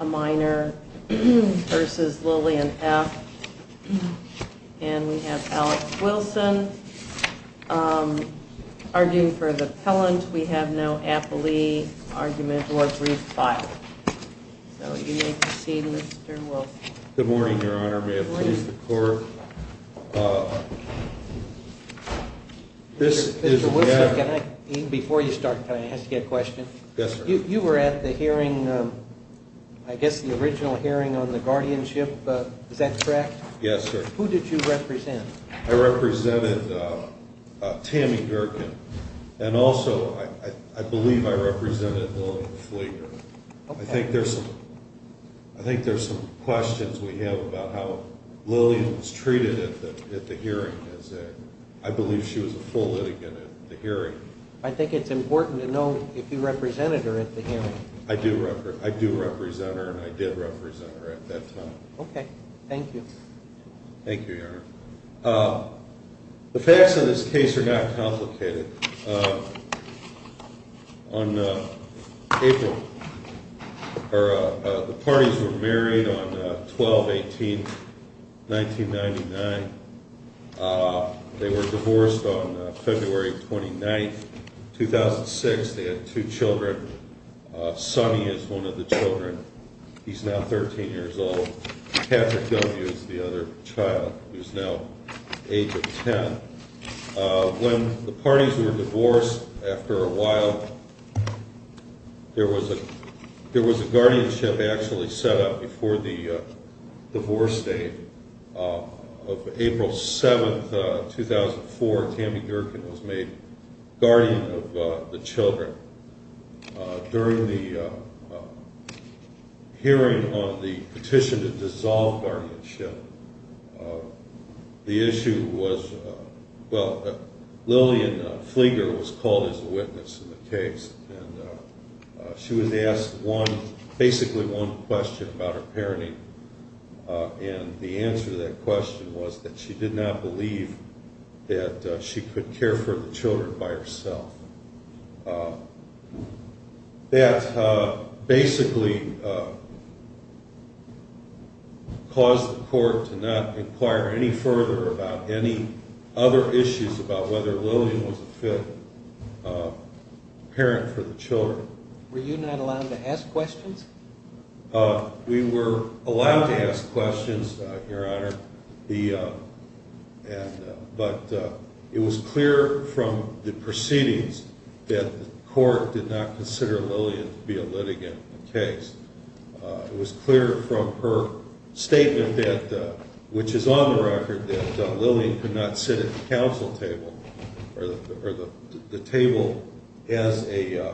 A minor versus Lillian F. And we have Alex Wilson, um, arguing for the pellant. We have no appellee, argument, or brief filed. So you may proceed, Mr. Wilson. Good morning, Your Honor. May it please the Court? Uh, this is a matter... Mr. Wilson, can I, even before you start, can I ask you a question? Yes, sir. You were at the hearing, um, I guess the original hearing on the guardianship, uh, is that correct? Yes, sir. Who did you represent? I represented, uh, uh, Tammy Gerken. And also, I, I, I believe I represented Lillian Flieger. Okay. I think there's some, I think there's some questions we have about how Lillian was treated at the, at the hearing. I believe she was a full litigant at the hearing. I think it's important to know if you represented her at the hearing. I do, I do represent her, and I did represent her at that time. Okay. Thank you. Thank you, Your Honor. Uh, the facts of this case are not complicated. Uh, on, uh, April, or, uh, uh, the parties were married on, uh, 12-18-1999. Uh, they were divorced on, uh, February 29th, 2006. They had two children. Uh, Sonny is one of the children. He's now 13 years old. Patrick W. is the other child, who's now the age of 10. Uh, when the parties were divorced after a while, there was a, there was a guardianship actually set up before the, uh, divorce date. Uh, of April 7th, uh, 2004, Tammy Gerken was made guardian of, uh, the children. Uh, during the, uh, hearing on the petition to dissolve guardianship, uh, the issue was, uh, well, Lillian, uh, Flieger was called as a witness in the case. And, uh, uh, she was asked one, basically one question about her parenting. Uh, and the answer to that question was that she did not believe that, uh, she could care for the children by herself. Uh, that, uh, basically, uh, caused the court to not inquire any further about any other issues about whether Lillian was a fit, uh, parent for the children. Were you not allowed to ask questions? Uh, we were allowed to ask questions, uh, Your Honor. The, uh, and, uh, but, uh, it was clear from the proceedings that the court did not consider Lillian to be a litigant in the case. Uh, it was clear from her statement that, uh, which is on the record that, uh, Lillian could not sit at the counsel table, or the, or the, the table as a, uh,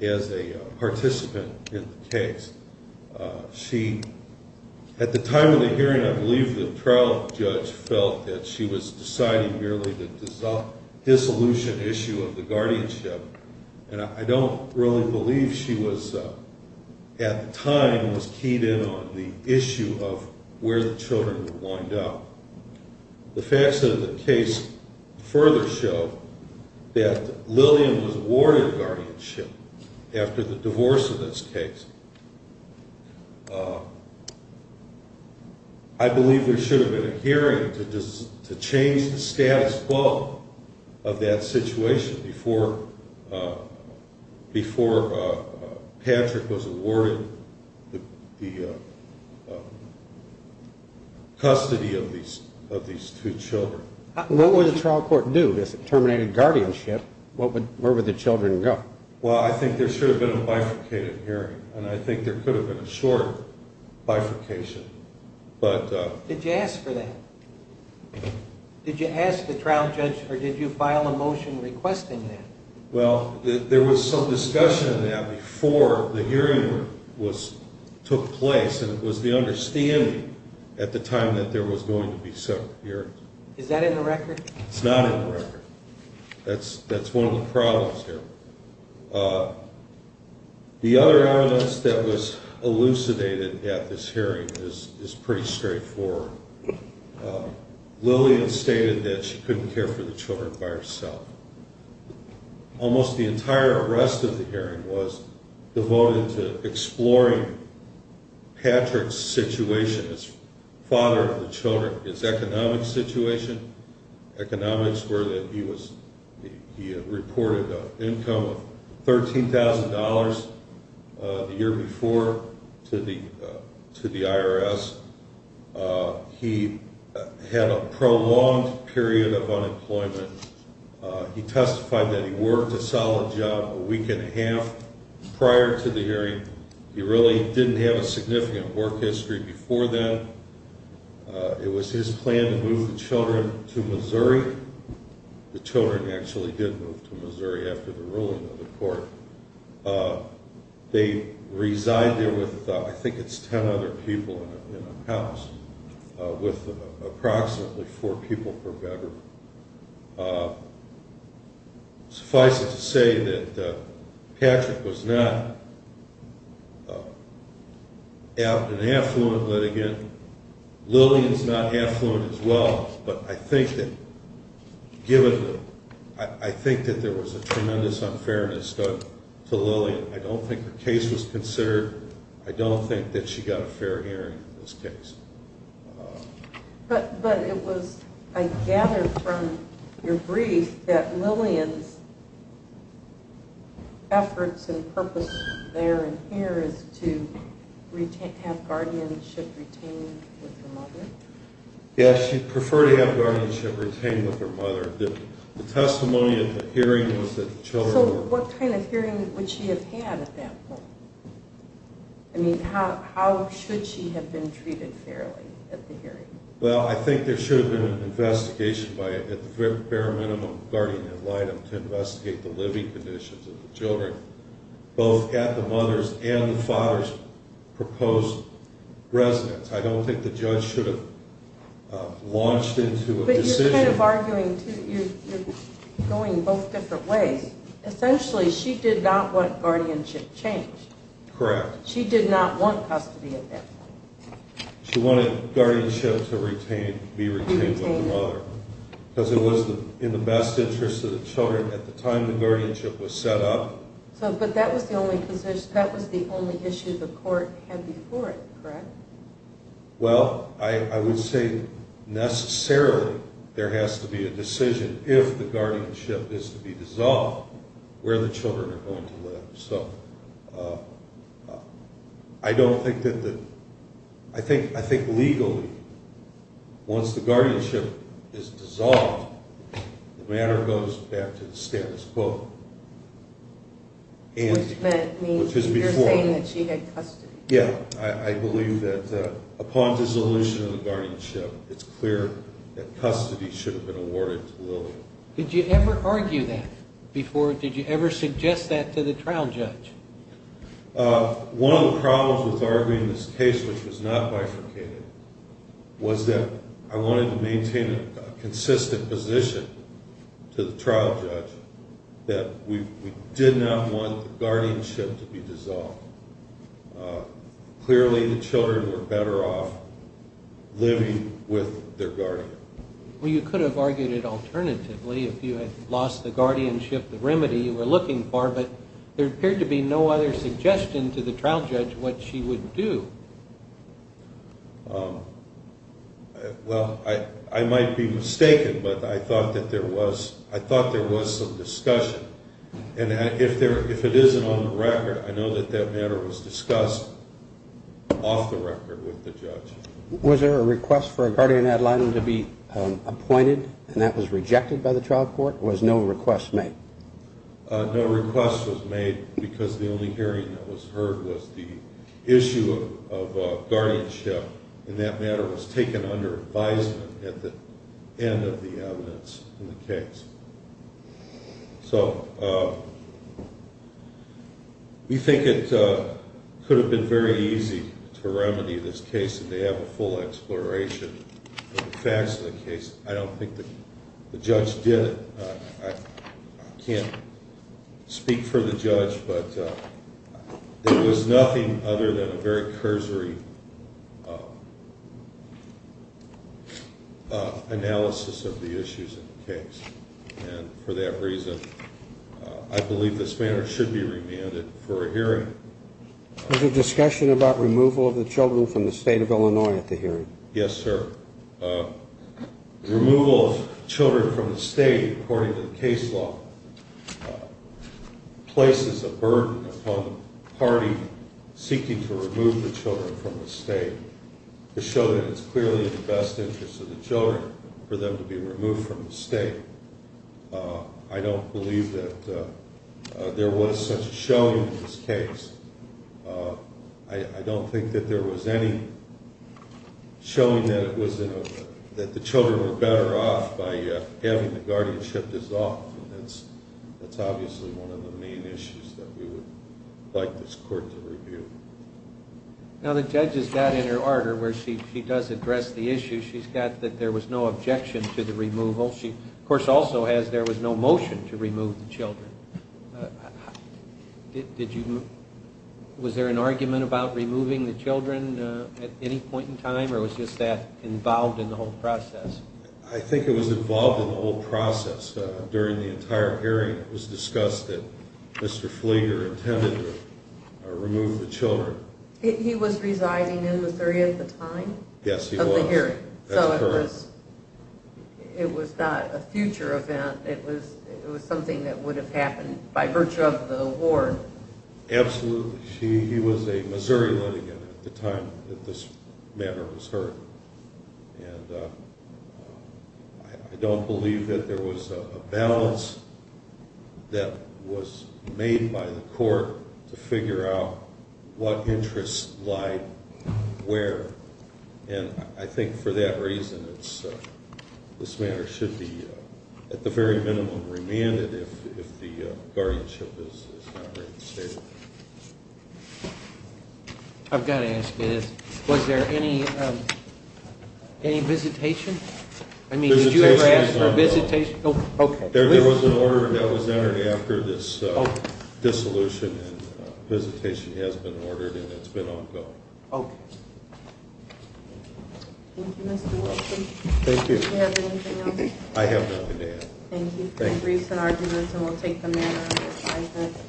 as a, uh, participant in the case. Uh, she, at the time of the hearing, I believe the trial judge felt that she was deciding merely to dissolve, dissolution issue of the guardianship. And I don't really believe she was, uh, at the time was keyed in on the issue of where the children were lined up. The facts of the case further show that Lillian was awarded guardianship after the divorce of this case. Uh, I believe there should have been a hearing to just, to change the status quo of that situation before, uh, before, uh, Patrick was awarded the, the, uh, custody of these, of these two children. What would the trial court do? This terminated guardianship. What would, where would the children go? Well, I think there should have been a bifurcated hearing, and I think there could have been a short bifurcation. But, uh... Did you ask for that? Did you ask the trial judge, or did you file a motion requesting that? Well, there was some discussion in that before the hearing was, took place, and it was the understanding at the time that there was going to be separate hearings. Is that in the record? It's not in the record. That's, that's one of the problems here. Uh, the other evidence that was elucidated at this hearing is, is pretty straightforward. Uh, Lillian stated that she couldn't care for the children by herself. Almost the entire rest of the hearing was devoted to exploring Patrick's situation as father of the children, his economic situation. Economics were that he was, he had reported an income of $13,000 the year before to the, to the IRS. Uh, he had a prolonged period of unemployment. Uh, he testified that he worked a solid job a week and a half prior to the hearing. He really didn't have a significant work history before then. Uh, it was his plan to move the children to Missouri. The children actually did move to Missouri after the ruling of the court. Uh, they reside there with, uh, I think it's 10 other people in a, in a house, uh, with approximately four people per bedroom. Uh, suffice it to say that, uh, Patrick was not, uh, an affluent litigant. Lillian's not affluent as well, but I think that given the, I, I think that there was a tremendous unfairness done to Lillian. I don't think the case was considered. I don't think that she got a fair hearing in this case. But, but it was, I gather from your brief that Lillian's efforts and purpose there and here is to retain, have guardianship retained with her mother? Yeah, she preferred to have guardianship retained with her mother. The testimony at the hearing was that the children were... So what kind of hearing would she have had at that point? I mean, how, how should she have been treated fairly at the hearing? Well, I think there should have been an investigation by, at the bare minimum, guardian ad litem to investigate the living conditions of the children, both at the mother's and the father's proposed residence. I don't think the judge should have, uh, launched into a decision... But you're kind of arguing, too, you're, you're going both different ways. Essentially, she did not want guardianship changed. Correct. She did not want custody at that point. She wanted guardianship to retain, be retained with the mother. Because it was in the best interest of the children at the time the guardianship was set up. So, but that was the only position, that was the only issue the court had before it, correct? Well, I, I would say necessarily there has to be a decision, if the guardianship is to be dissolved, where the children are going to live. So, uh, I don't think that the... I think, I think legally, once the guardianship is dissolved, the matter goes back to the status quo. Which meant, means you're saying that she had custody. Yeah, I, I believe that, uh, upon dissolution of the guardianship, it's clear that custody should have been awarded to Lily. Did you ever argue that before? Did you ever suggest that to the trial judge? Uh, one of the problems with arguing this case, which was not bifurcated, was that I wanted to maintain a consistent position to the trial judge that we did not want the guardianship to be dissolved. Uh, clearly the children were better off living with their guardian. Well, you could have argued it alternatively, if you had lost the guardianship, the remedy you were looking for, but there appeared to be no other suggestion to the trial judge what she would do. Um, well, I, I might be mistaken, but I thought that there was, I thought there was some discussion, and if there, if it isn't on the record, I know that that matter was discussed off the record with the judge. Was there a request for a guardian ad litem to be appointed, and that was rejected by the trial court, or was no request made? Uh, no request was made because the only hearing that was heard was the issue of, of guardianship, and that matter was taken under advisement at the end of the evidence in the case. So, uh, we think it, uh, could have been very easy to remedy this case if they have a full exploration of the facts of the case. I don't think that the judge did it. Uh, I, I can't speak for the judge, but, uh, there was nothing other than a very cursory, uh, uh, analysis of the issues in the case, and for that reason, uh, I believe this matter should be remanded for a hearing. Was there discussion about removal of the children from the state of Illinois at the hearing? Yes, sir. Uh, removal of children from the state, according to the case law, uh, places a burden upon the party seeking to remove the children from the state to show that it's clearly in the best interest of the children for them to be removed from the state. Uh, I don't believe that, uh, uh, there was such a showing in this case. Uh, I, I don't think that there was any showing that it was in a, that the children were better off by, uh, having the guardianship dissolved, and that's, that's obviously one of the main issues that we would like this court to review. Now, the judge has got in her ardor where she, she does address the issue. She's got that there was no objection to the removal. She, of course, also has there was no motion to remove the children. Uh, did, did you, was there an argument about removing the children, uh, at any point in time, or was just that involved in the whole process? I think it was involved in the whole process, uh, during the entire hearing. It was discussed that Mr. Flieger intended to, uh, remove the children. He, he was residing in Missouri at the time? Yes, he was. Of the hearing. That's correct. So it was, it was not a future event. It was, it was something that would have happened by virtue of the award. Absolutely. She, he was a Missouri litigant at the time that this matter was heard. And, uh, I, I don't believe that there was a balance that was made by the court to figure out what interests lied where. And I think for that reason, it's, uh, this matter should be, uh, at the very minimum, remanded if, if the, uh, guardianship is, is not reinstated. I've got to ask you this. Was there any, um, any visitation? I mean, did you ever ask for a visitation? Oh, okay. There was an order that was entered after this, uh, dissolution, and a visitation has been ordered, and it's been ongoing. Okay. Thank you, Mr. Wilson. Thank you. Do you have anything else? I have nothing else. Thank you for your briefs and arguments, and we'll take them now.